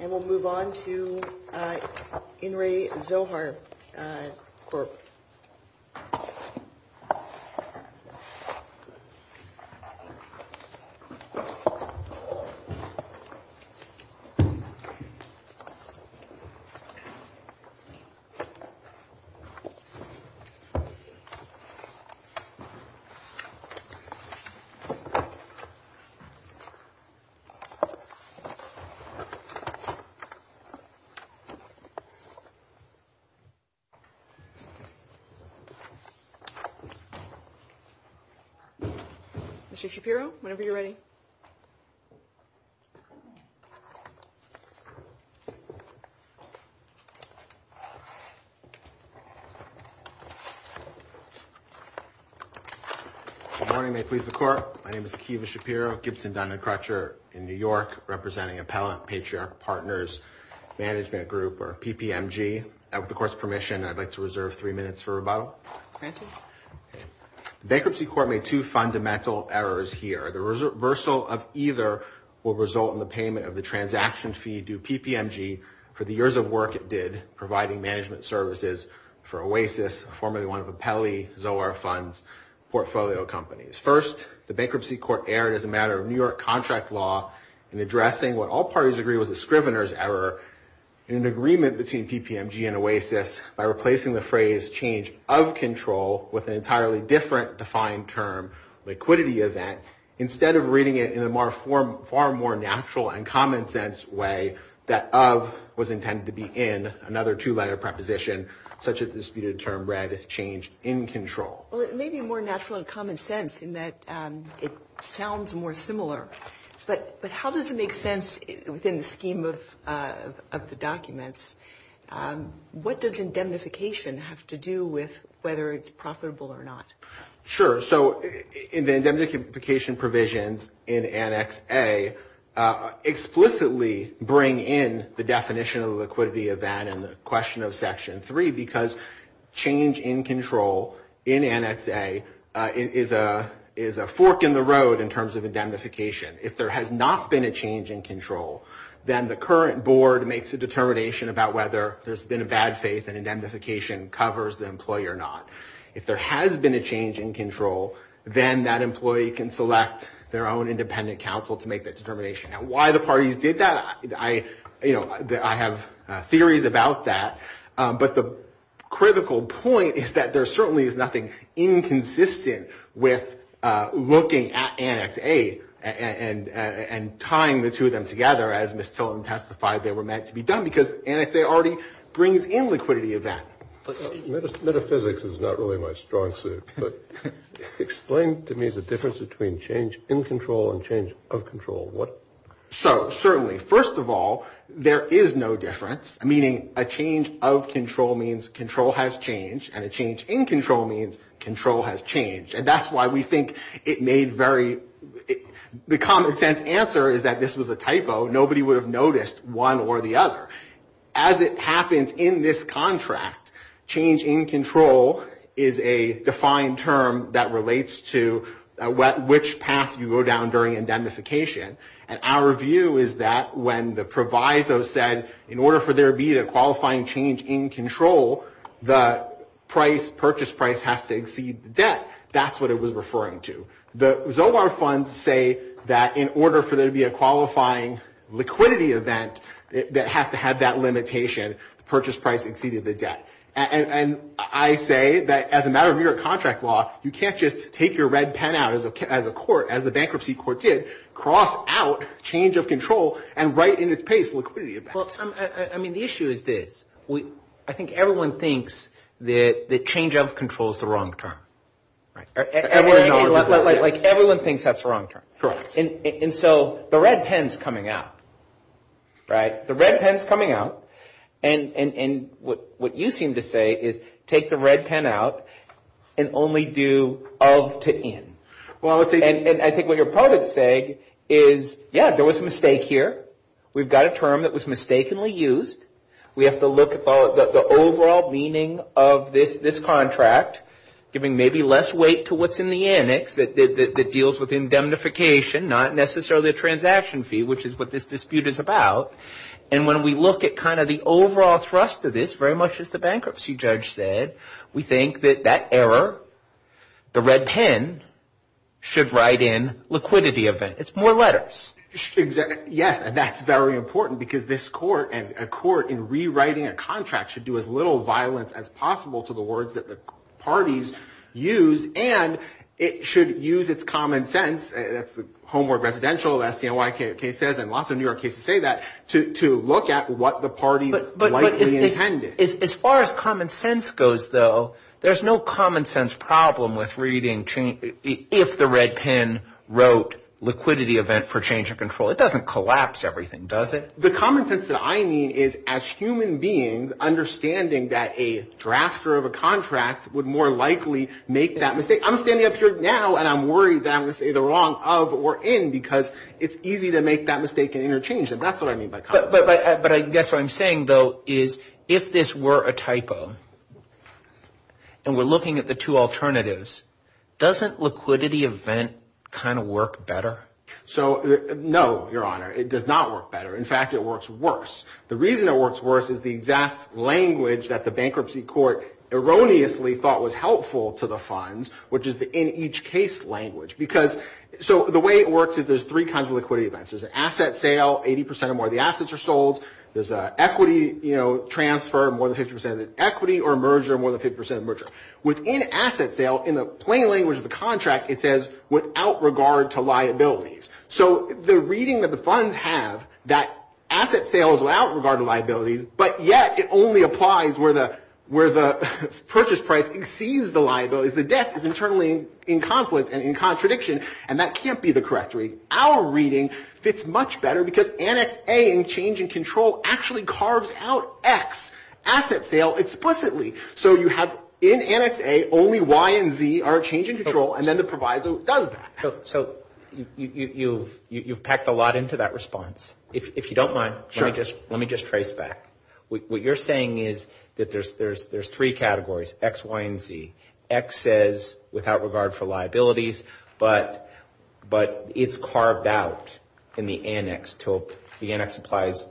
And we'll move on to In Re Zohar Corp. Mr. Shapiro, whenever you're ready. Good morning, may it please the court. My name is Akiva Shapiro, Gibson Dun & Crutcher in New York, representing Appellant Patriarch Partners Management Group, or PPMG. With the court's permission, I'd like to reserve three minutes for rebuttal. Granted. The Bankruptcy Court made two fundamental errors here. The reversal of either will result in the payment of the transaction fee due PPMG for the years of work it did providing management services for Oasis, formerly one of Appellee Zohar Fund's portfolio companies. First, the Bankruptcy Court erred as a matter of New York contract law in addressing what all parties agree was a scrivener's error in an agreement between PPMG and Oasis by replacing the phrase change of control with an entirely different defined term, liquidity event, instead of reading it in a far more natural and common sense way that of was intended to be in another two-letter preposition, such as the disputed term read change in control. Well, it may be more natural and common sense in that it sounds more similar, but how does it make sense within the scheme of the documents? What does indemnification have to do with whether it's profitable or not? Sure. So indemnification provisions in Annex A explicitly bring in the definition of the liquidity event and the question of Section 3 because change in control in Annex A is a fork in the road in terms of indemnification. If there has not been a change in control, then the current board makes a determination about whether there's been a bad faith and indemnification covers the employee or not. If there has been a change in control, then that employee can select their own independent counsel to make that determination. And why the parties did that, you know, I have theories about that, but the critical point is that there certainly is nothing inconsistent with looking at Annex A and tying the two of them together as Ms. Tilton testified they were meant to be done, because Annex A already brings in liquidity event. Metaphysics is not really my strong suit, but explain to me the difference between change in control and change of control. So certainly, first of all, there is no difference, meaning a change of control means control has changed and a change in control means control has changed. And that's why we think it made very the common sense answer is that this was a typo. Nobody would have noticed one or the other. As it happens in this contract, change in control is a defined term that relates to which path you go down during indemnification. And our view is that when the proviso said in order for there to be a qualifying change in control, the price, purchase price has to exceed the debt, that's what it was referring to. The Zobar funds say that in order for there to be a qualifying liquidity event that has to have that limitation, the purchase price exceeded the debt. And I say that as a matter of New York contract law, you can't just take your red pen out as a court, as the bankruptcy court did, cross out change of control and write in its pace liquidity. I mean, the issue is this. I think everyone thinks that the change of control is the wrong term. Like everyone thinks that's the wrong term. And so the red pen's coming out. Right. The red pen's coming out. And what you seem to say is take the red pen out and only do of to in. Well, and I think what you're probably saying is, yeah, there was a mistake here. We've got a term that was mistakenly used. We have to look at the overall meaning of this contract, giving maybe less weight to what's in the annex that deals with indemnification, not necessarily a transaction fee, which is what this dispute is about. And when we look at kind of the overall thrust of this, very much as the bankruptcy judge said, we think that that error, the red pen, should write in liquidity of it. It's more letters. Yes. And that's very important because this court and a court in rewriting a contract should do as little violence as possible to the words that the parties use. And it should use its common sense. That's the Homework Residential, as you know, like it says, and lots of New York cases say that, to look at what the parties likely intended. As far as common sense goes, though, there's no common sense problem with reading if the red pen wrote liquidity of it for change of control. It doesn't collapse everything, does it? The common sense that I need is as human beings understanding that a drafter of a contract would more likely make that mistake. I'm standing up here now, and I'm worried that I'm going to say the wrong of or in because it's easy to make that mistake and interchange it. That's what I mean by common sense. But I guess what I'm saying, though, is if this were a typo, and we're looking at the two alternatives, doesn't liquidity event kind of work better? No, Your Honor. It does not work better. In fact, it works worse. The reason it works worse is the exact language that the bankruptcy court erroneously thought was helpful to the funds, which is the in-each-case language. So the way it works is there's three kinds of liquidity events. There's an asset sale, 80 percent or more. The assets are sold. There's an equity transfer, more than 50 percent of the equity, or a merger, more than 50 percent of the merger. Within asset sale, in the plain language of the contract, it says without regard to liabilities. So the reading that the funds have, that asset sale is without regard to liabilities, but yet it only applies where the purchase price exceeds the liabilities. The debt is internally in conflict and in contradiction, and that can't be the correct reading. Our reading fits much better because Annex A in change and control actually carves out X, asset sale, explicitly. So you have in Annex A only Y and Z are change and control, and then the proviso does that. So you've packed a lot into that response. If you don't mind, let me just trace back. What you're saying is that there's three categories, X, Y, and Z. X says without regard for liabilities, but it's carved out in the annex. The annex applies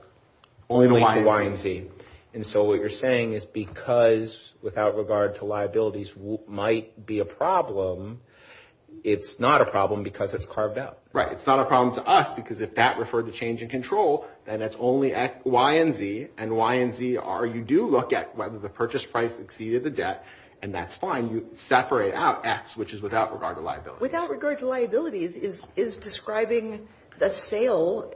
only to Y and Z. And so what you're saying is because without regard to liabilities might be a problem, it's not a problem because it's carved out. Right. It's not a problem to us because if that referred to change and control, then that's only Y and Z. And Y and Z are you do look at whether the purchase price exceeded the debt, and that's fine. You separate out X, which is without regard to liabilities. Without regard to liabilities is describing the sale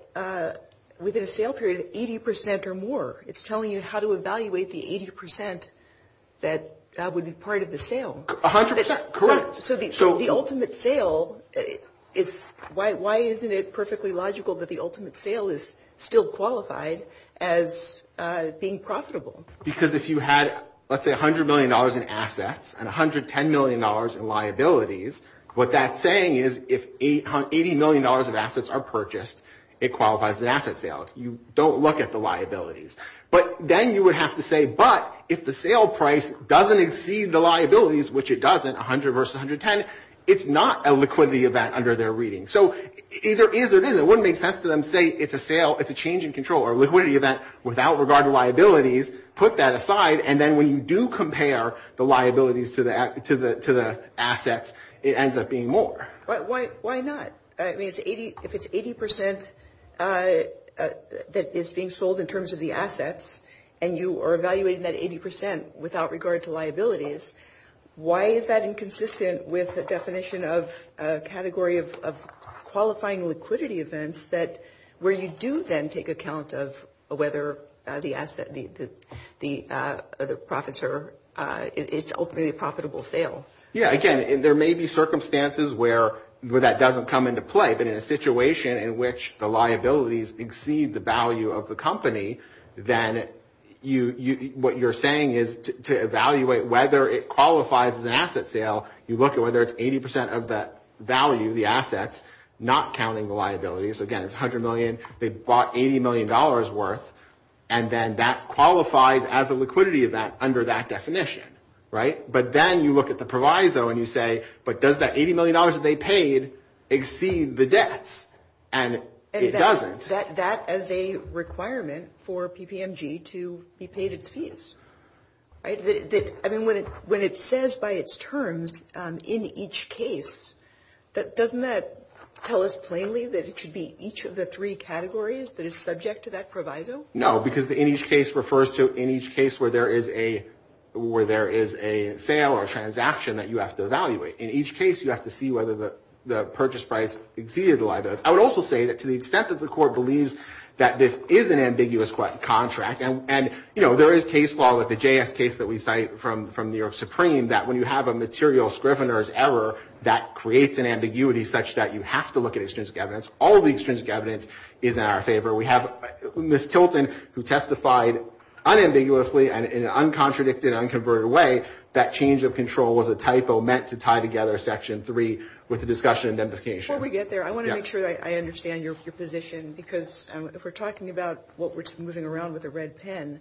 within a sale period of 80 percent or more. It's telling you how to evaluate the 80 percent that would be part of the sale. 100 percent. Correct. So the ultimate sale, why isn't it perfectly logical that the ultimate sale is still qualified as being profitable? Because if you had, let's say, $100 million in assets and $110 million in liabilities, what that's saying is if $80 million of assets are purchased, it qualifies as an asset sale. But then you would have to say, but if the sale price doesn't exceed the liabilities, which it doesn't, 100 versus 110, it's not a liquidity event under their reading. So either is or isn't. It wouldn't make sense to them to say it's a sale, it's a change in control or a liquidity event without regard to liabilities. Put that aside, and then when you do compare the liabilities to the assets, it ends up being more. Why not? If it's 80 percent that is being sold in terms of the assets and you are evaluating that 80 percent without regard to liabilities, why is that inconsistent with the definition of a category of qualifying liquidity events where you do then take account of whether the profits are ultimately a profitable sale? Yeah, again, there may be circumstances where that doesn't come into play, but in a situation in which the liabilities exceed the value of the company, then what you're saying is to evaluate whether it qualifies as an asset sale, you look at whether it's 80 percent of the value, the assets, not counting the liabilities. Again, it's $100 million, they bought $80 million worth, and then that qualifies as a liquidity event under that definition. But then you look at the proviso and you say, but does that $80 million that they paid exceed the debts? And it doesn't. That is a requirement for PPMG to be paid its fees. I mean, when it says by its terms, in each case, doesn't that tell us plainly that it should be each of the three categories that is subject to that proviso? No, because in each case refers to in each case where there is a sale or a transaction that you have to evaluate. In each case, you have to see whether the purchase price exceeded the liabilities. I would also say that to the extent that the court believes that this is an ambiguous contract, and there is case law with the JS case that we cite from New York Supreme, that when you have a material scrivener's error, that creates an ambiguity such that you have to look at extrinsic evidence. All the extrinsic evidence is in our favor. We have Ms. Tilton who testified unambiguously and in an uncontradicted, unconverted way that change of control was a typo meant to tie together Section 3 with the discussion of identification. Before we get there, I want to make sure that I understand your position because if we're talking about what we're moving around with a red pen,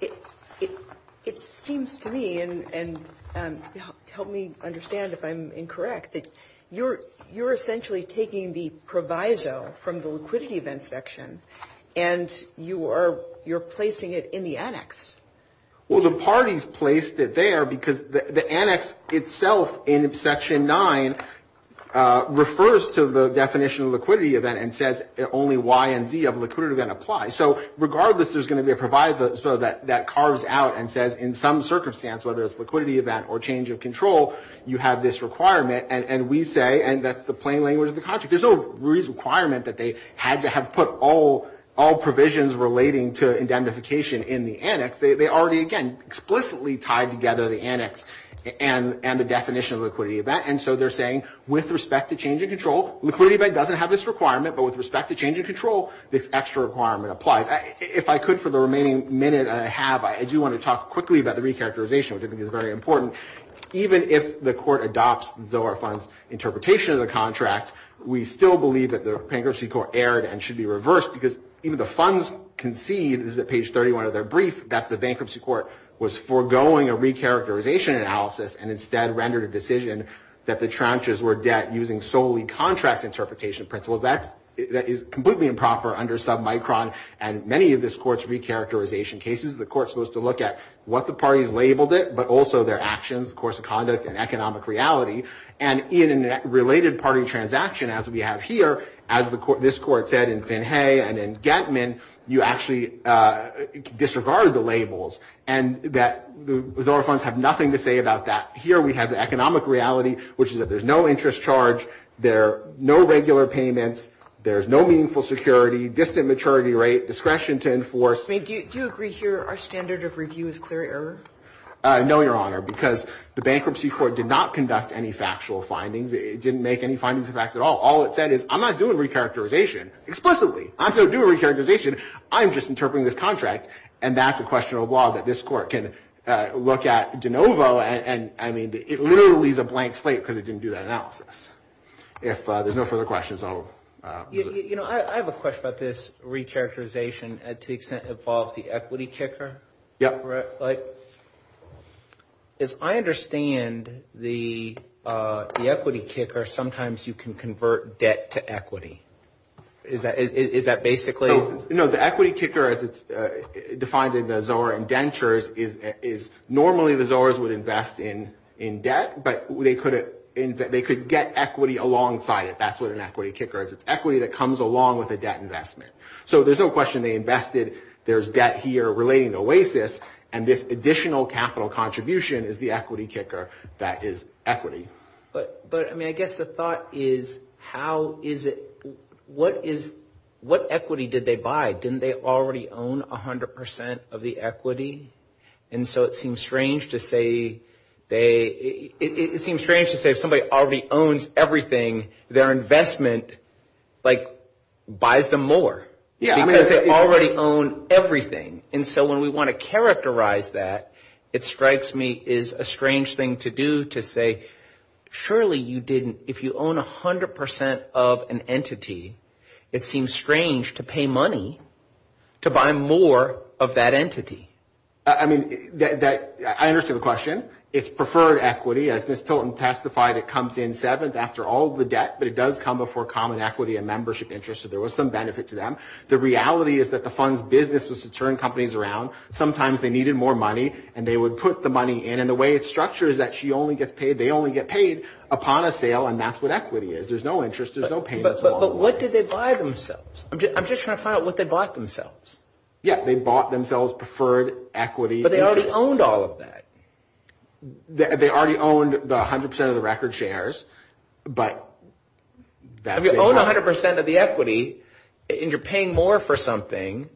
it seems to me, and help me understand if I'm incorrect, that you're essentially taking the proviso from the liquidity event section and you're placing it in the annex. Well, the parties placed it there because the annex itself in Section 9 refers to the definition of liquidity event and says only Y and Z of liquidity event apply. So regardless, there's going to be a proviso that carves out and says in some circumstance, whether it's liquidity event or change of control, you have this requirement and we say, and that's the plain language of the contract, there's no requirement that they had to have put all provisions relating to indemnification in the annex. They already, again, explicitly tied together the annex and the definition of liquidity event. And so they're saying with respect to change of control, liquidity event doesn't have this requirement, but with respect to change of control, this extra requirement applies. If I could for the remaining minute that I have, I do want to talk quickly about the recharacterization, which I think is very important. Even if the court adopts Zohar Fund's interpretation of the contract, we still believe that the bankruptcy court erred and should be reversed because even the funds concede, this is at page 31 of their brief, that the bankruptcy court was foregoing a recharacterization analysis and instead rendered a decision that the tranches were debt using solely contract interpretation principles. That is completely improper under submicron and many of this court's recharacterization cases, the court's supposed to look at what the parties labeled it, but also their actions, course of conduct, and economic reality. And in a related party transaction, as we have here, as this court said in Finhay and in Getman, you actually disregarded the labels and that the Zohar Funds have nothing to say about that. Here we have the economic reality, which is that there's no interest charge, there are no regular payments, there's no meaningful security, distant maturity rate, discretion to enforce. Do you agree here our standard of review is clear error? No, Your Honor, because the bankruptcy court did not conduct any factual findings. It didn't make any findings of fact at all. All it said is, I'm not doing recharacterization explicitly. I'm not doing recharacterization, I'm just interpreting this contract and that's a question of law that this court can look at de novo and it literally is a blank slate because it didn't do that analysis. If there's no further questions, I'll... I have a question about this recharacterization to the extent it involves the equity kicker. As I understand the equity kicker, sometimes you can convert debt to equity. Is that basically... No, the equity kicker as it's defined in the Zohar indentures is normally the Zohars would invest in debt, but they could get equity alongside it. That's what an equity kicker is. It's equity that comes along with a debt investment. So there's no question they invested. There's debt here relating to Oasis and this additional capital contribution is the equity kicker that is equity. But, I mean, I guess the thought is how is it... What is... What equity did they buy? Didn't they already own 100% of the equity? And so it seems strange to say they... It seems strange to say if somebody already owns everything, their investment, like, buys them more. Because they already own everything. And so when we want to characterize that, it strikes me is a strange thing to do to say, surely you didn't... If you own 100% of an entity, it seems strange to pay money to buy more of that entity. I mean, that... I understand the question. It's preferred equity. As Ms. Tilton testified, it comes in seventh after all of the debt, but it does come before common equity and membership interest. So there was some benefit to them. The reality is that the fund's business was to turn companies around. Sometimes they needed more money, and they would put the money in. And the way it's structured is that she only gets paid, they only get paid upon a sale, and that's what equity is. There's no interest. There's no payments along the way. But what did they buy themselves? I'm just trying to find out what they bought themselves. Yeah, they bought themselves preferred equity. But they already owned all of that. They already owned 100% of the record shares, but... If you own 100% of the equity, and you're paying more for something,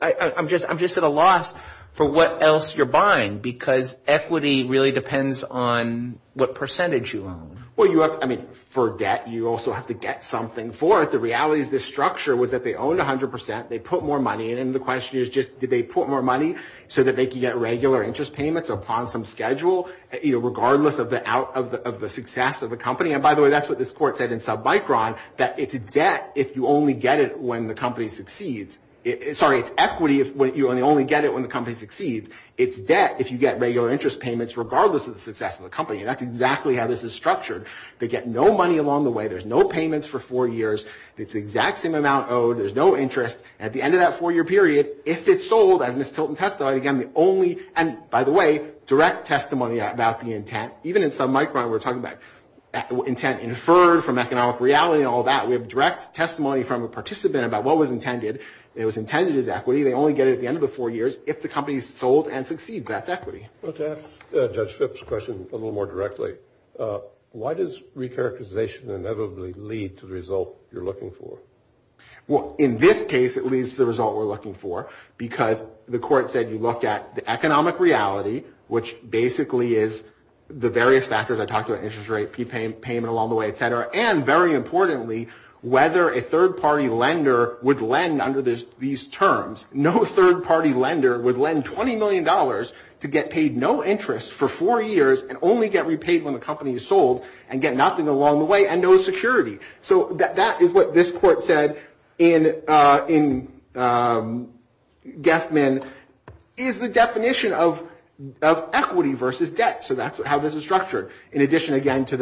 I'm just at a loss for what else you're buying because equity really depends on what percentage you own. Well, you have... I mean, for debt, you also have to get something for it. The reality is this structure was that they owned 100%, they put more money in, and the question is just did they put more money so that they could get regular interest payments upon some schedule, regardless of the success of the company? And by the way, that's what this court said in Submicron, that it's debt if you only get it when the company succeeds. Sorry, it's equity if you only get it when the company succeeds. It's debt if you get regular interest payments regardless of the success of the company. And that's exactly how this is structured. They get no money along the way. There's no payments for four years. It's the exact same amount owed. There's no interest. At the end of that four-year period, if it's sold, as Ms. Tilton testified, again, the only... And by the way, direct testimony about the intent. Even in Submicron, we're talking about intent inferred from economic reality and all that. We have direct testimony from a participant about what was intended. It was intended as equity. They only get it at the end of the four years if the company's sold and succeeds. That's equity. Well, to ask Judge Phipps' question a little more directly, why does recharacterization inevitably lead to the result you're looking for? Well, in this case, it leads to the result we're looking for because the court said you look at the economic reality, which basically is the various factors I talked about, interest rate, payment along the way, et cetera, and very importantly, whether a third-party lender would lend under these terms. No third-party lender would lend $20 million to get paid no interest for four years and only get repaid when the company is sold and get nothing along the way and no security. So that is what this court said in Geffman, is the definition of equity versus debt. So that's how this is structured. In addition, again, to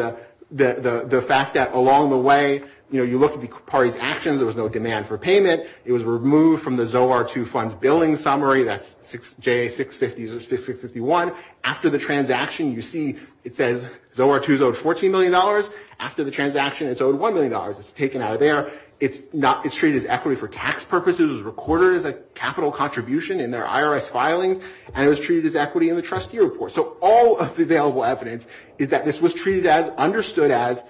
the fact that along the way, you know, you look at the party's actions. There was no demand for payment. It was removed from the Zohar II Funds Billing Summary. That's JA-651. After the transaction, you see it says Zohar II is owed $14 million. After the transaction, it's owed $1 million. It's taken out of there. It's treated as equity for tax purposes. It was recorded as a capital contribution in their IRS filings, and it was treated as equity in the trustee report. So all of the available evidence is that this was treated as, understood as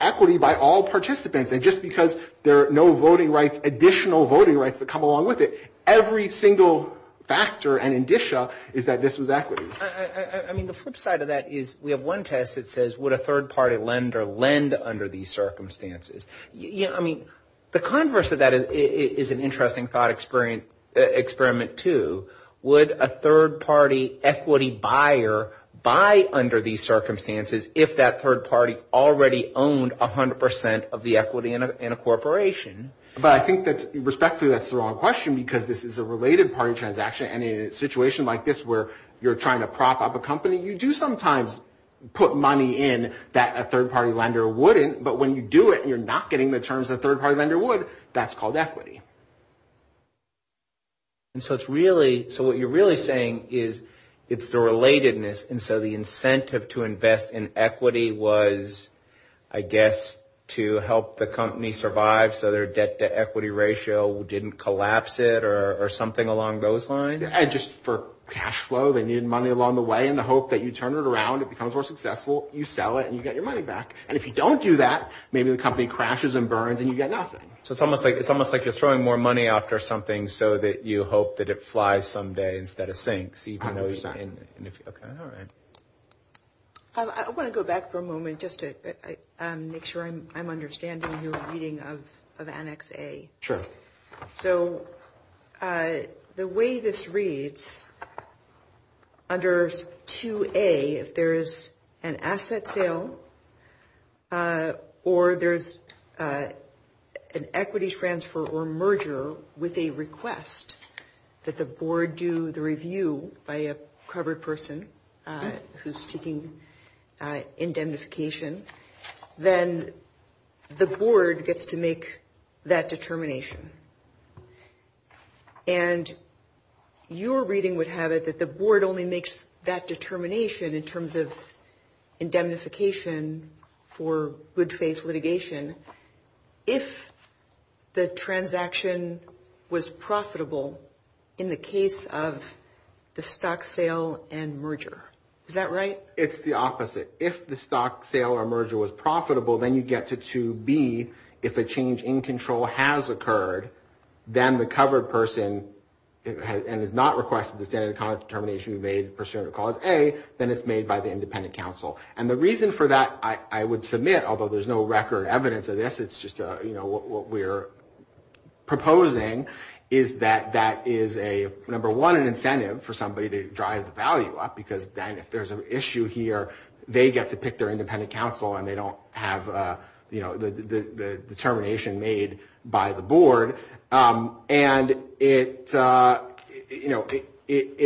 equity by all participants, and just because there are no voting rights, additional voting rights that come along with it, every single factor and indicia is that this was equity. I mean, the flip side of that is we have one test that says would a third-party lender lend under these circumstances? Yeah, I mean, the converse of that is an interesting thought experiment too. Would a third-party equity buyer buy under these circumstances if that third party already owned 100% of the equity in a corporation? But I think that's, respectfully, that's the wrong question because this is a related party transaction, and in a situation like this where you're trying to prop up a company, you do sometimes put money in that a third-party lender wouldn't, but when you do it and you're not getting the terms a third-party lender would, that's called equity. And so it's really, so what you're really saying is it's the relatedness, and so the incentive to invest in equity was, I guess, to help the company survive so their debt-to-equity ratio didn't collapse it or something along those lines? And just for cash flow, they needed money along the way in the hope that you turn it around, it becomes more successful, you sell it, and you get your money back. And if you don't do that, maybe the company crashes and burns and you get nothing. So it's almost like you're throwing more money after something so that you hope that it flies someday instead of sinks. I would say. Okay, all right. I want to go back for a moment just to make sure I'm understanding your reading of Annex A. Sure. So the way this reads, under 2A, if there's an asset sale or there's an equity transfer or merger with a request that the board do the review by a covered person who's seeking indemnification, then the board gets to make that determination. And your reading would have it that the board only makes that determination in terms of indemnification for good-faith litigation if the transaction was profitable in the case of the stock sale and merger. Is that right? It's the opposite. If the stock sale or merger was profitable, then you get to 2B. If a change in control has occurred, then the covered person, and has not requested the standard of conduct determination to be made pursuant to Clause A, then it's made by the independent counsel. And the reason for that, I would submit, although there's no record evidence of this, it's just what we're proposing, is that that is, number one, an incentive for somebody to drive the value up because then if there's an issue here, they get to pick their independent counsel and they don't have the determination made by the board. And it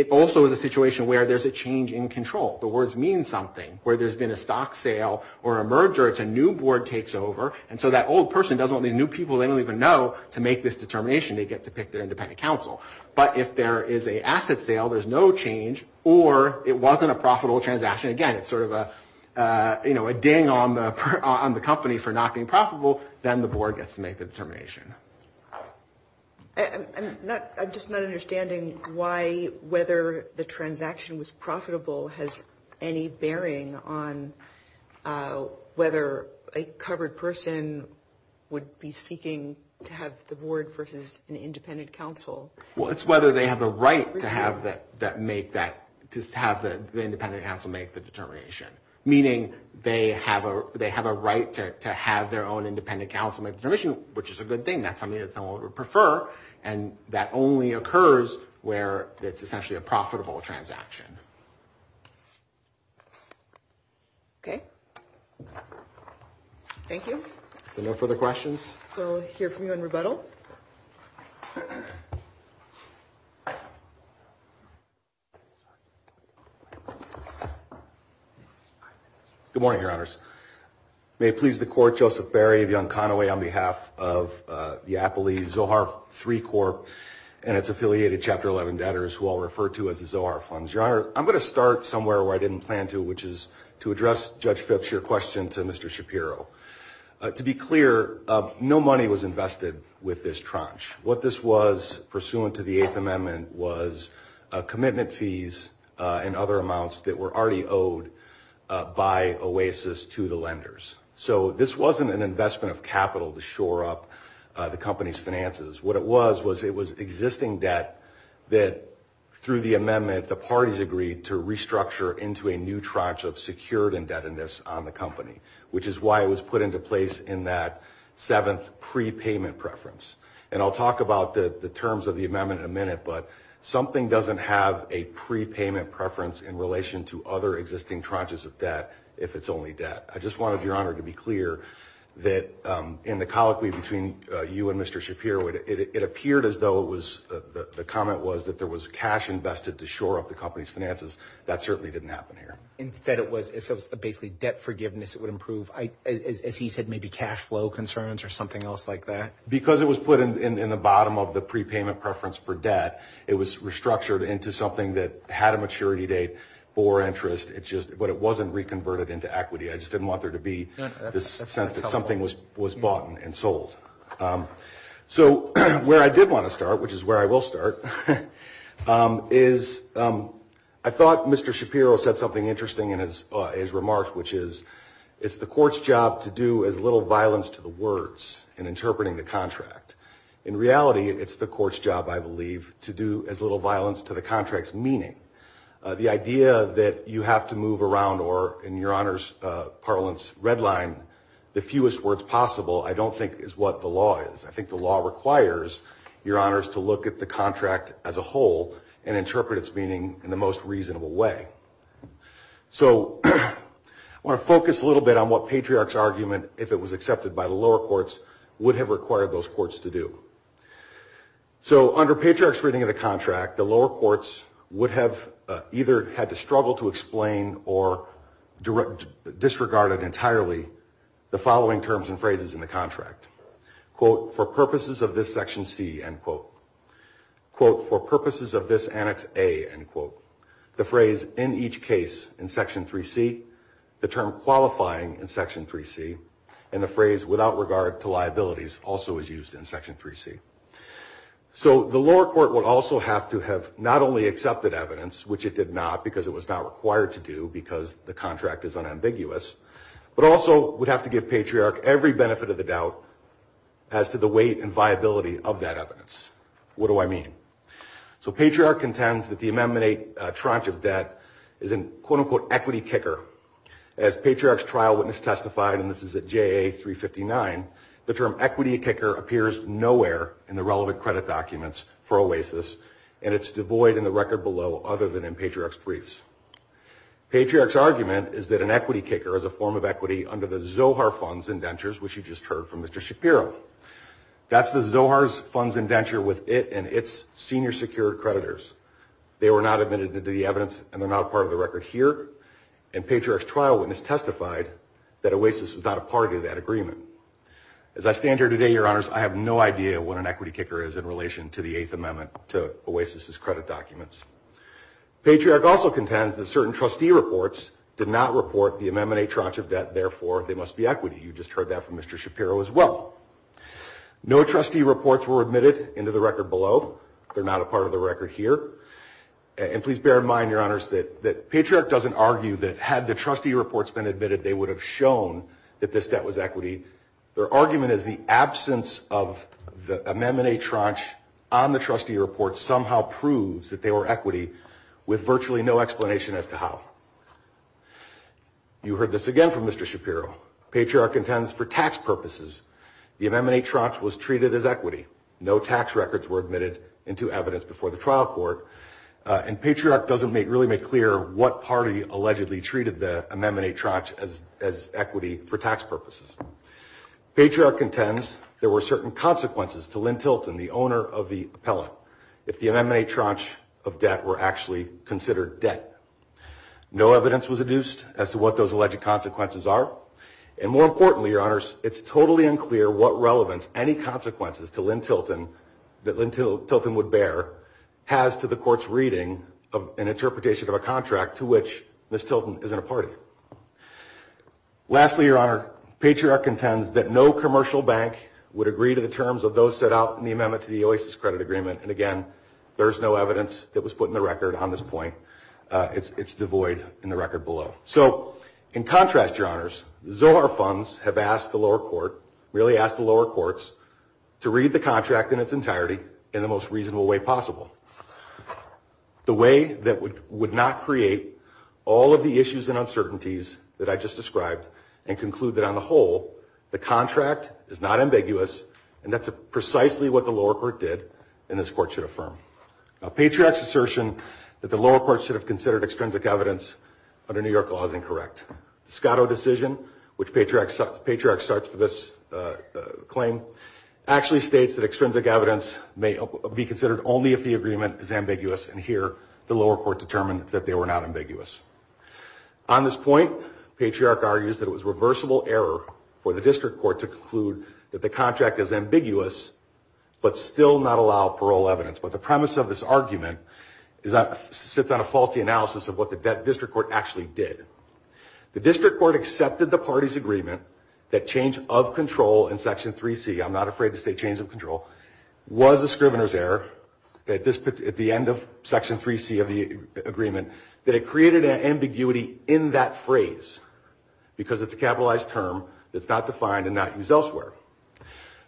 also is a situation where there's a change in control. The words mean something. Where there's been a stock sale or a merger, it's a new board takes over, and so that old person doesn't want these new people they don't even know to make this determination. They get to pick their independent counsel. But if there is an asset sale, there's no change, or it wasn't a profitable transaction. Again, it's sort of a ding on the company for not being profitable. Then the board gets to make the determination. I'm just not understanding why whether the transaction was profitable has any bearing on whether a covered person would be seeking to have the board versus an independent counsel. Well, it's whether they have the right to have the independent counsel make the determination. Meaning they have a right to have their own independent counsel make the determination, which is a good thing. That's something that someone would prefer, and that only occurs where it's essentially a profitable transaction. Okay. Thank you. No further questions? We'll hear from you in rebuttal. Good morning, Your Honors. May it please the Court, Joseph Barry of Yonconawe on behalf of the Appley Zohar III Corp and its affiliated Chapter 11 debtors, who I'll refer to as the Zohar Funds. Your Honor, I'm going to start somewhere where I didn't plan to, which is to address Judge Phipps' question to Mr. Shapiro. To be clear, no money was invested with this tranche. What this was, pursuant to the Eighth Amendment, was commitment fees and other amounts that were already owed by OASIS to the lenders. So this wasn't an investment of capital to shore up the company's finances. What it was was it was existing debt that, through the amendment, the parties agreed to restructure into a new tranche of secured indebtedness on the company, which is why it was put into place in that seventh prepayment preference. And I'll talk about the terms of the amendment in a minute, but something doesn't have a prepayment preference in relation to other existing tranches of debt if it's only debt. I just wanted, Your Honor, to be clear that in the colloquy between you and Mr. Shapiro, it appeared as though it was, the comment was that there was cash invested to shore up the company's finances. That certainly didn't happen here. Instead, it was basically debt forgiveness. It would improve, as he said, maybe cash flow concerns or something else like that. Because it was put in the bottom of the prepayment preference for debt, it was restructured into something that had a maturity date for interest, but it wasn't reconverted into equity. I just didn't want there to be this sense that something was bought and sold. So where I did want to start, which is where I will start, is I thought Mr. Shapiro said something interesting in his remarks, which is, it's the court's job to do as little violence to the words in interpreting the contract. In reality, it's the court's job, I believe, to do as little violence to the contract's meaning. The idea that you have to move around, or in Your Honor's parlance, redline, the fewest words possible, I don't think is what the law is. I think the law requires, Your Honors, to look at the contract as a whole and interpret its meaning in the most reasonable way. So I want to focus a little bit on what Patriarch's argument, if it was accepted by the lower courts, would have required those courts to do. So under Patriarch's reading of the contract, the lower courts would have either had to struggle to explain or disregarded entirely the following terms and phrases in the contract. Quote, for purposes of this Section C, end quote. Quote, for purposes of this Annex A, end quote. The phrase, in each case, in Section 3C, the term qualifying in Section 3C, and the phrase, without regard to liabilities, also is used in Section 3C. So the lower court would also have to have not only accepted evidence, which it did not, because it was not required to do because the contract is unambiguous, but also would have to give Patriarch every benefit of the doubt as to the weight and viability of that evidence. What do I mean? So Patriarch contends that the Amendment 8 tranche of debt is an, quote, unquote, equity kicker. As Patriarch's trial witness testified, and this is at JA 359, the term equity kicker appears nowhere in the relevant credit documents for OASIS, and it's devoid in the record below other than in Patriarch's briefs. Patriarch's argument is that an equity kicker is a form of equity under the Zohar Fund's indentures, which you just heard from Mr. Shapiro. That's the Zohar Fund's indenture with it and its senior secured creditors. They were not admitted to the evidence, and they're not part of the record here, and Patriarch's trial witness testified that OASIS was not a part of that agreement. As I stand here today, Your Honors, I have no idea what an equity kicker is in relation to the Eighth Amendment to OASIS's credit documents. Patriarch also contends that certain trustee reports did not report the Amendment 8 tranche of debt, therefore, they must be equity. You just heard that from Mr. Shapiro as well. No trustee reports were admitted into the record below. They're not a part of the record here. And please bear in mind, Your Honors, that Patriarch doesn't argue that had the trustee reports been admitted, they would have shown that this debt was equity. Their argument is the absence of the Amendment 8 tranche on the trustee reports somehow proves that they were equity with virtually no explanation as to how. You heard this again from Mr. Shapiro. Patriarch contends for tax purposes the Amendment 8 tranche was treated as equity. No tax records were admitted into evidence before the trial court, and Patriarch doesn't really make clear what party allegedly treated the Amendment 8 tranche as equity for tax purposes. Patriarch contends there were certain consequences to Lynn Tilton, the owner of the appellate, if the Amendment 8 tranche of debt were actually considered debt. No evidence was adduced as to what those alleged consequences are. And more importantly, Your Honors, it's totally unclear what relevance any consequences to Lynn Tilton, that Lynn Tilton would bear, has to the court's reading of an interpretation of a contract to which Ms. Tilton isn't a party. Lastly, Your Honor, Patriarch contends that no commercial bank would agree to the terms of those set out in the amendment to the OASIS credit agreement. And again, there's no evidence that was put in the record on this point. It's devoid in the record below. So, in contrast, Your Honors, Zohar funds have asked the lower court, really asked the lower courts, to read the contract in its entirety in the most reasonable way possible. The way that would not create all of the issues and uncertainties that I just described, and conclude that on the whole, the contract is not ambiguous, and that's precisely what the lower court did, and this court should affirm. Patriarch's assertion that the lower court should have considered extrinsic evidence under New York law is incorrect. The Scotto decision, which Patriarch starts for this claim, actually states that extrinsic evidence may be considered only if the agreement is ambiguous, and here, the lower court determined that they were not ambiguous. On this point, Patriarch argues that it was reversible error for the district court to conclude that the contract is ambiguous, but still not allow parole evidence. But the premise of this argument sits on a faulty analysis of what the district court actually did. The district court accepted the party's agreement that change of control in Section 3C, I'm not afraid to say change of control, was a scrivener's error at the end of Section 3C of the agreement, that it created an ambiguity in that phrase, because it's a capitalized term that's not defined and not used elsewhere.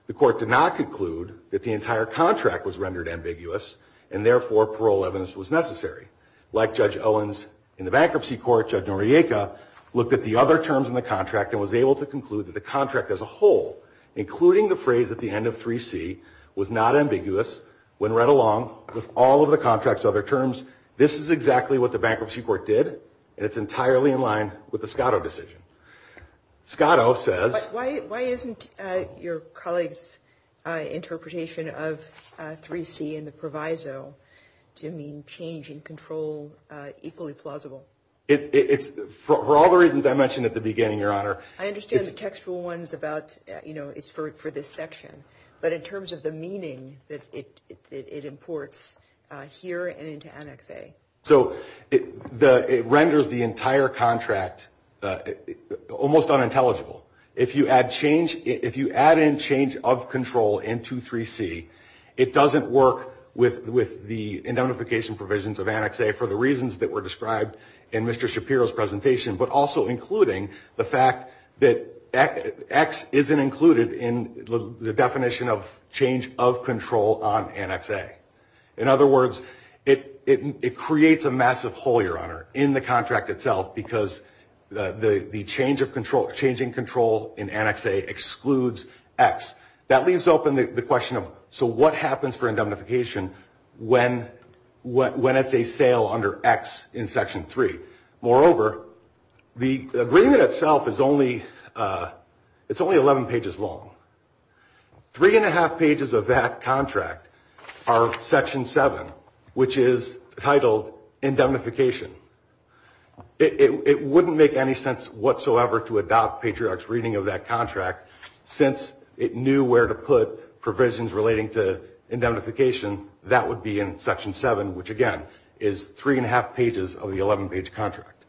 The court did not conclude that the entire contract was rendered ambiguous, and therefore parole evidence was necessary. Like Judge Owens in the bankruptcy court, Judge Noriega looked at the other terms in the contract and was able to conclude that the contract as a whole, including the phrase at the end of 3C, was not ambiguous when read along with all of the contract's other terms, this is exactly what the bankruptcy court did, and it's entirely in line with the Scotto decision. Scotto says... Why isn't your colleague's interpretation of 3C in the proviso to mean change in control equally plausible? It's, for all the reasons I mentioned at the beginning, Your Honor... I understand the textual ones about, you know, it's for this section, but in terms of the meaning that it imports here and into Annex A. So, it renders the entire contract, almost unintelligible. If you add in change of control in 2.3.C, it doesn't work with the indemnification provisions of Annex A for the reasons that were described in Mr. Shapiro's presentation, but also including the fact that X isn't included in the definition of change of control on Annex A. In other words, it creates a massive hole, Your Honor, in the contract itself because the change in control in Annex A excludes X. That leaves open the question of, so what happens for indemnification when it's a sale under X in Section 3? Moreover, the agreement itself is only 11 pages long. Three and a half pages of that contract are Section 7, which is titled indemnification. It wouldn't make any sense whatsoever to adopt Patriarch's reading of that contract since it knew where to put provisions relating to indemnification. That would be in Section 7, which, again, is three and a half pages of the 11-page contract.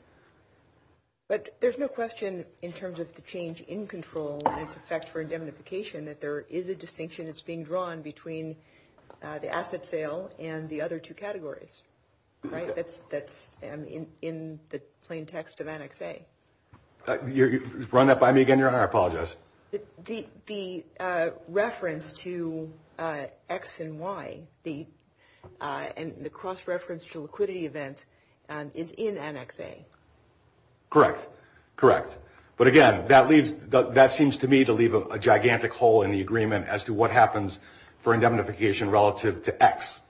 But there's no question, in terms of the change in control and its effect for indemnification, that there is a distinction that's being drawn between the asset sale and the other two categories. Right? That's in the plain text of Annex A. You're running that by me again, Your Honor. I apologize. The reference to X and Y, the cross-reference to liquidity event, is in Annex A. Correct. Correct. But again, that seems to me to leave a gigantic hole in the agreement as to what happens for indemnification relative to X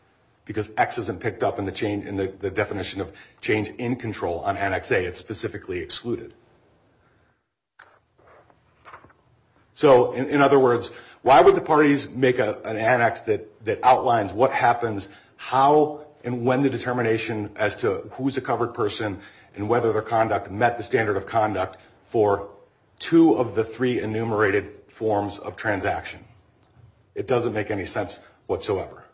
because X isn't picked up in the definition of change in control on Annex A. It's specifically excluded. So, in other words, why would the parties make an annex that outlines what happens, how, and when the determination as to who's a covered person and whether their conduct met the standard of conduct for two of the three enumerated forms of transaction? It doesn't make any sense whatsoever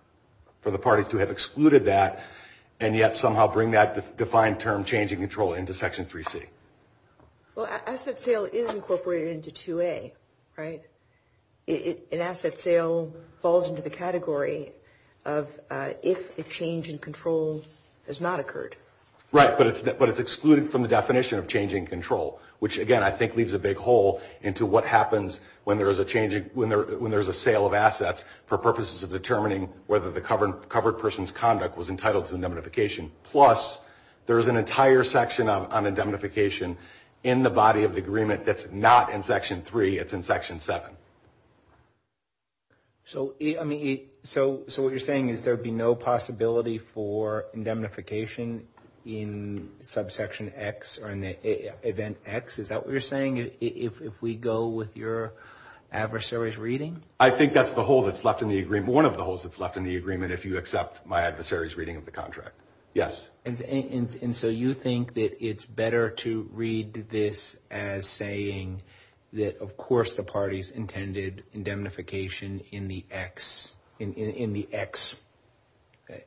for the parties to have excluded that and yet somehow bring that defined term, change in control, into Section 3C. Well, asset sale is incorporated into 2A, right? An asset sale falls into the category of if a change in control has not occurred. Right, but it's excluded from the definition of change in control, which, again, I think leaves a big hole into what happens when there's a sale of assets for purposes of determining whether the covered person's conduct was entitled to indemnification. Plus, there's an entire section on indemnification in the body of the agreement that's not in Section 3, it's in Section 7. So, I mean, so what you're saying is there would be no possibility for indemnification in Subsection X or in Event X? Is that what you're saying if we go with your adversary's reading? I think that's the hole that's left in the agreement, one of the holes that's left in the agreement if you accept my adversary's reading of the contract. Yes. And so you think that it's better to read this as saying that of course the parties intended indemnification in the X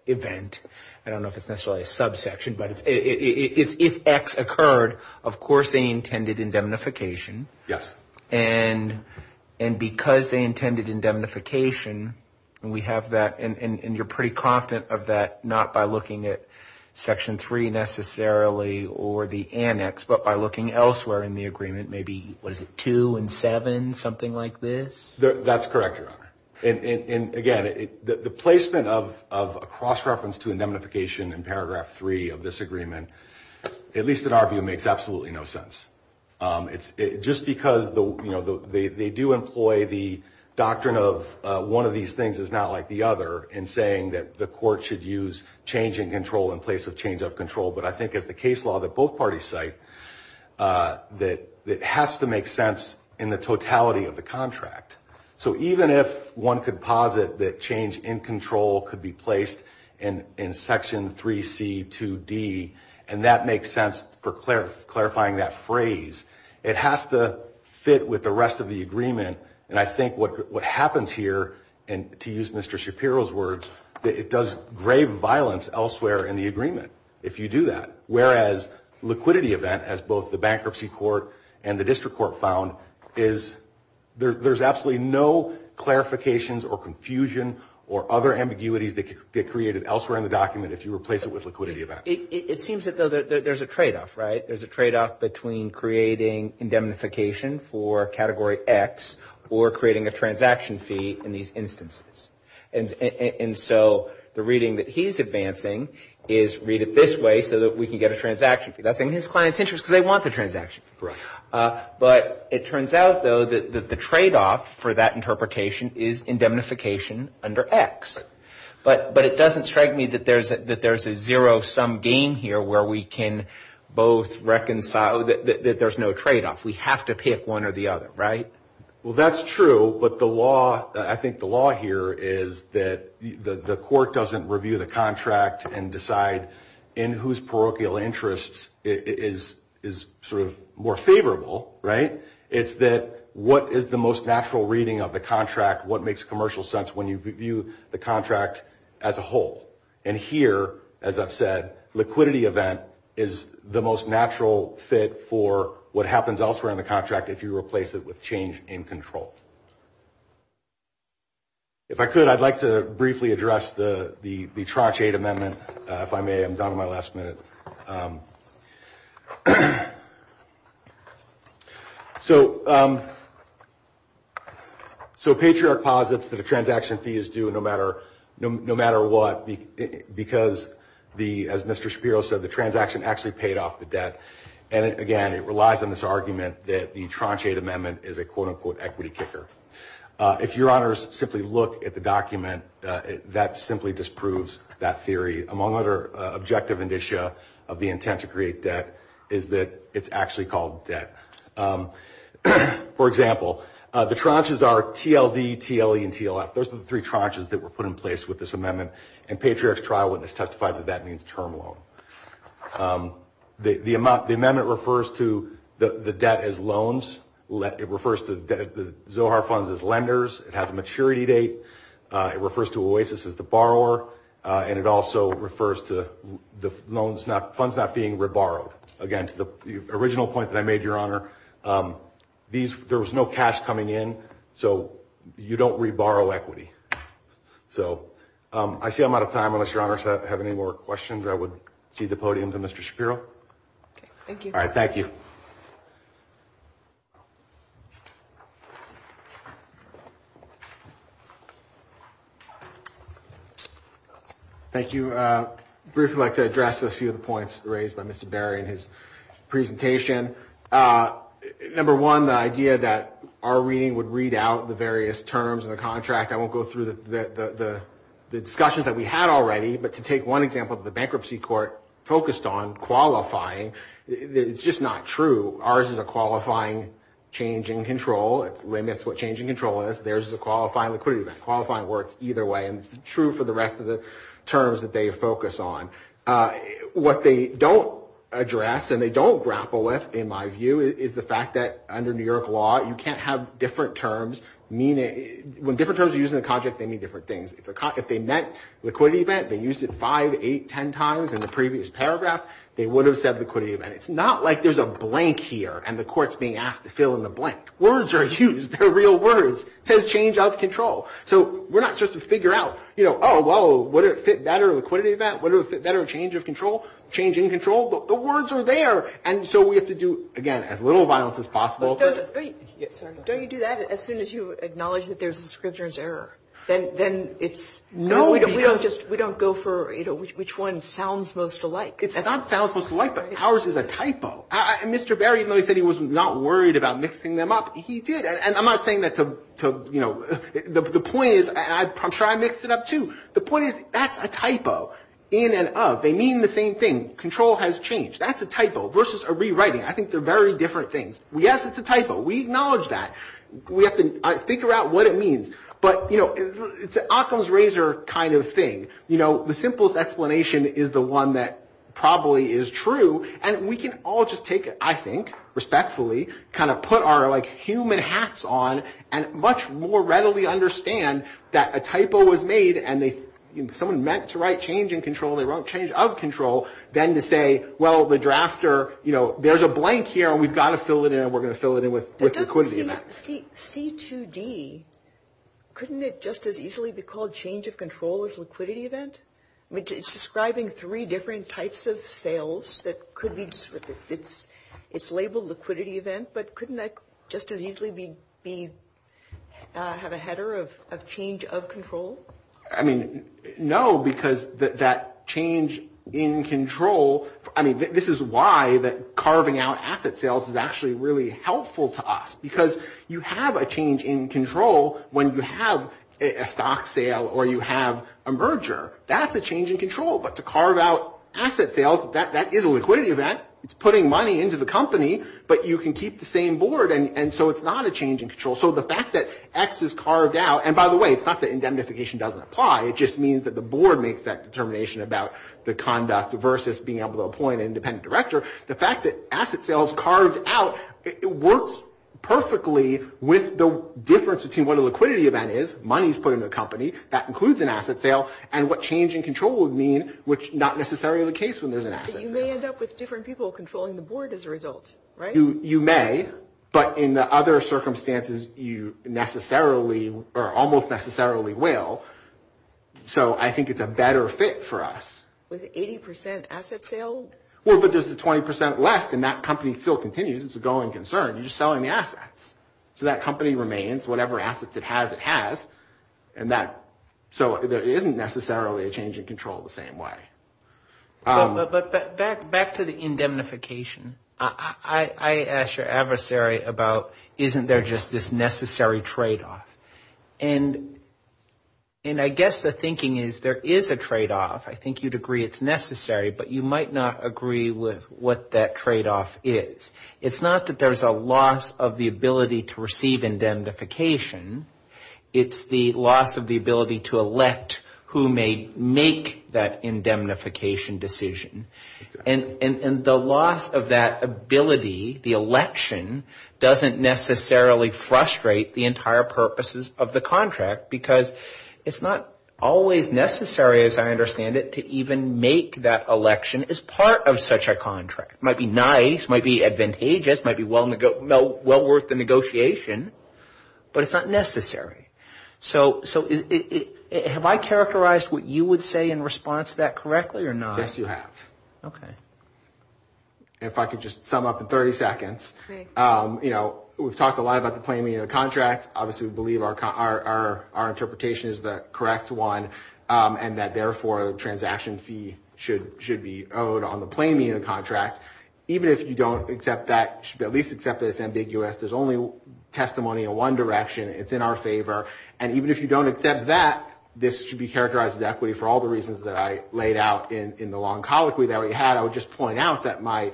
event. I don't know if it's necessarily a subsection, but it's if X occurred, of course they intended indemnification. Yes. And because they intended indemnification, and we have that, and you're pretty confident of that not by looking at Section 3 necessarily or the annex, but by looking elsewhere in the agreement, maybe was it 2 and 7, something like this? That's correct, Your Honor. And again, the placement of a cross-reference to indemnification in Paragraph 3 of this agreement, at least in our view, makes absolutely no sense. Just because they do employ the doctrine of one of these things is not like the other in saying that the court should use change in control in place of change of control, but I think as the case law that both parties cite, it has to make sense in the totality of the contract. So even if one could posit that change in control could be placed in Section 3C2D, and that makes sense for clarifying that phrase. It has to fit with the rest of the agreement, and I think what happens here, and to use Mr. Shapiro's words, that it does grave violence elsewhere in the agreement if you do that, whereas liquidity event, as both the Bankruptcy Court and the District Court found, is there's absolutely no clarifications or confusion or other ambiguities that could get created elsewhere in the document if you replace it with liquidity event. It seems that there's a trade-off, right? There's a trade-off between creating indemnification for Category X or creating a transaction fee in these instances. And so the reading that he's advancing is read it this way so that we can get a transaction fee. That's in his client's interest because they want the transaction fee. But it turns out, though, that the trade-off for that interpretation is indemnification under X. But it doesn't strike me that there's a zero-sum game here where we can both reconcile that there's no trade-off. We have to pick one or the other, right? Well, that's true, but I think the law here is that the court doesn't review the contract and decide in whose parochial interest is sort of more favorable, right? It's that what is the most natural reading of the contract, what makes commercial sense when you review the contract as a whole. And here, as I've said, liquidity event is the most natural fit for what happens elsewhere in the contract if you replace it with change in control. If I could, I'd like to briefly address the Trotch 8 Amendment, if I may. I'm down to my last minute. So Patriarch posits that a transaction fee is due no matter what because, as Mr. Shapiro said, the transaction actually paid off the debt. And again, it relies on this argument that the Trotch 8 Amendment is a quote-unquote equity kicker. If your honors simply look at the document, that simply disproves that theory. Among other objective indicia of the intent to create debt is that it's actually called debt. For example, the Trotches are TLD, TLE, those are the three Trotches that were put in place with this amendment. And Patriarch's trial witness testified that that means term loan. The amendment refers to the debt as loans. It refers to Zohar funds as lenders. It has a maturity date. It refers to Oasis as the borrower. And it also refers to the funds not being reborrowed. Again, to the original point that I made, Your Honor, there was no cash coming in, so you don't reborrow equity. So I see I'm out of time, unless Your Honors have any more questions, I would cede the podium to Mr. Shapiro. Okay, thank you. All right, thank you. Thank you. Briefly, I'd like to address a few of the points raised by Mr. Barry in his presentation. Number one, the idea that our reading would read out the various terms in the contract. I won't go through the discussions that we had already, but to take one example, the bankruptcy court focused on qualifying. It's just not true. Ours is a qualifying change in control. It limits what change in control is. Theirs is a qualifying liquidity event. Qualifying works either way, and it's true for the rest of the terms that they focus on. What they don't address, and they don't grapple with, in my view, is the fact that under New York law, you can't have different terms. When different terms are used in the contract, they mean different things. If they meant liquidity event, they used it five, eight, ten times in the previous paragraph, they would have said liquidity event. It's not like there's a blank here, and the court's being asked to fill in the blank. Words are used. They're real words. It says change of control. So we're not supposed to figure out, oh, whoa, would it fit better, liquidity event? Would it fit better, change of control? Change in control? The words are there, and so we have to do, again, as little violence as possible. But don't you do that as soon as you acknowledge that there's a scripture's error? Then it's... No, because... We don't go for, you know, which one sounds most alike. It's not sounds most alike, but ours is a typo. Mr. Barry, even though he said he was not worried about mixing them up, he did, and I'm not saying that to, you know... The point is, and I'm sure I mixed it up, too. The point is, that's a typo. In and of. They mean the same thing. Control has changed. That's a typo. Versus a rewriting. I think they're very different things. Yes, it's a typo. We acknowledge that. We have to figure out what it means. But, you know, it's an Occam's razor kind of thing. You know, the simplest explanation is the one that probably is true, and we can all just take it, I think, respectfully, kind of put our, like, human hats on, and much more readily understand that a typo was made, and someone meant to write change in control, they wrote change of control, then to say, well, the drafter, you know, there's a blank here, and we've got to fill it in, and we're going to fill it in with liquidity. C2D, couldn't it just as easily be called change of control as liquidity event? I mean, it's describing three different types of sales that could be... It's labeled liquidity event, but couldn't that just as easily be... have a header of change of control? I mean, no, because that change in control... I mean, this is why that carving out asset sales is actually really helpful to us, because you have a change in control when you have a stock sale or you have a merger. That's a change in control. But to carve out asset sales, that is a liquidity event. It's putting money into the company, but you can keep the same board, and so it's not a change in control. So the fact that X is carved out... And by the way, it's not that indemnification doesn't apply. It just means that the board makes that determination about the conduct versus being able to appoint an independent director. The fact that asset sales carved out, it works perfectly with the difference between what a liquidity event is, money is put into a company, that includes an asset sale, and what change in control would mean, which is not necessarily the case when there's an asset sale. But you may end up with different people controlling the board as a result, right? You may, but in the other circumstances, you almost necessarily will. So I think it's a better fit for us. With 80% asset sale? Well, but there's the 20% left, and that company still continues. It's a going concern. You're just selling the assets. So that company remains. Whatever assets it has, it has. So there isn't necessarily a change in control the same way. But back to the indemnification. I asked your adversary about, isn't there just this necessary trade-off? And I guess the thinking is there is a trade-off. I think you'd agree it's necessary, but you might not agree with what that trade-off is. It's not that there's a loss of the ability to receive indemnification. It's the loss of the ability to elect who may make that indemnification decision. And the loss of that ability, the election, doesn't necessarily frustrate the entire purposes of the contract because it's not always necessary, as I understand it, to even make that election as part of such a contract. It might be nice. It might be advantageous. It might be well worth the negotiation, but it's not necessary. So have I characterized what you would say in response to that correctly or not? Yes, you have. Okay. If I could just sum up in 30 seconds. We've talked a lot about the plain meaning of the contract. Obviously, we believe our interpretation is the correct one and that, therefore, a transaction fee should be owed on the plain meaning of the contract. Even if you don't accept that, you should at least accept that it's ambiguous. There's only testimony in one direction. It's in our favor. And even if you don't accept that, this should be characterized as equity for all the reasons that I laid out in the long colloquy that we had. I would just point out that my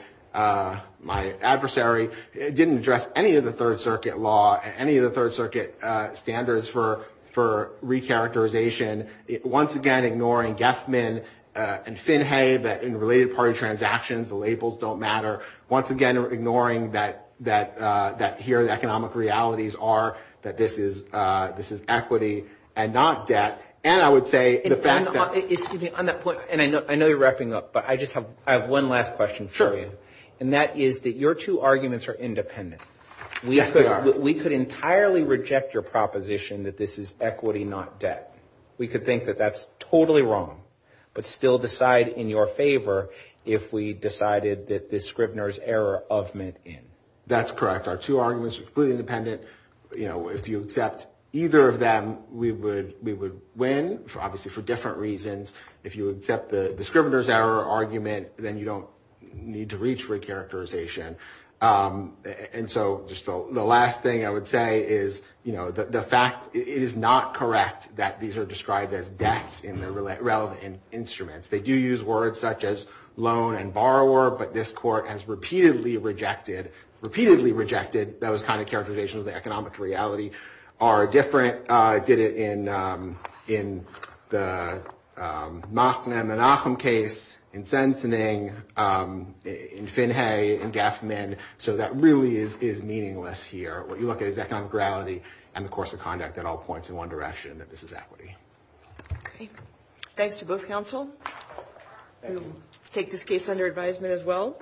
adversary didn't address any of the Third Circuit law and any of the Third Circuit standards for recharacterization. Once again, ignoring Geffman and Finhay, that in related party transactions, the labels don't matter. Once again, ignoring that here the economic realities are that this is equity and not debt. And I would say the fact that... Excuse me. On that point, and I know you're wrapping up, but I just have one last question for you. Sure. And that is that your two arguments are independent. Yes, they are. We could entirely reject your proposition that this is equity, not debt. We could think that that's totally wrong, but still decide in your favor if we decided that the Scrivener's error of mint in. That's correct. Our two arguments are completely independent. If you accept either of them, we would win, obviously for different reasons. If you accept the Scrivener's error argument, then you don't need to reach recharacterization. And so just the last thing I would say is, you know, the fact is not correct that these are described as debts in the relevant instruments. They do use words such as loan and borrower, but this court has repeatedly rejected, repeatedly rejected those kind of characterizations of the economic reality, did it in the Machnam and Acham case, in Sensening, in Finhay, in Gaffman. So that really is meaningless here. What you look at is economic reality and the course of conduct that all points in one direction, that this is equity. Okay. Thanks to both counsel. We'll take this case under advisement as well.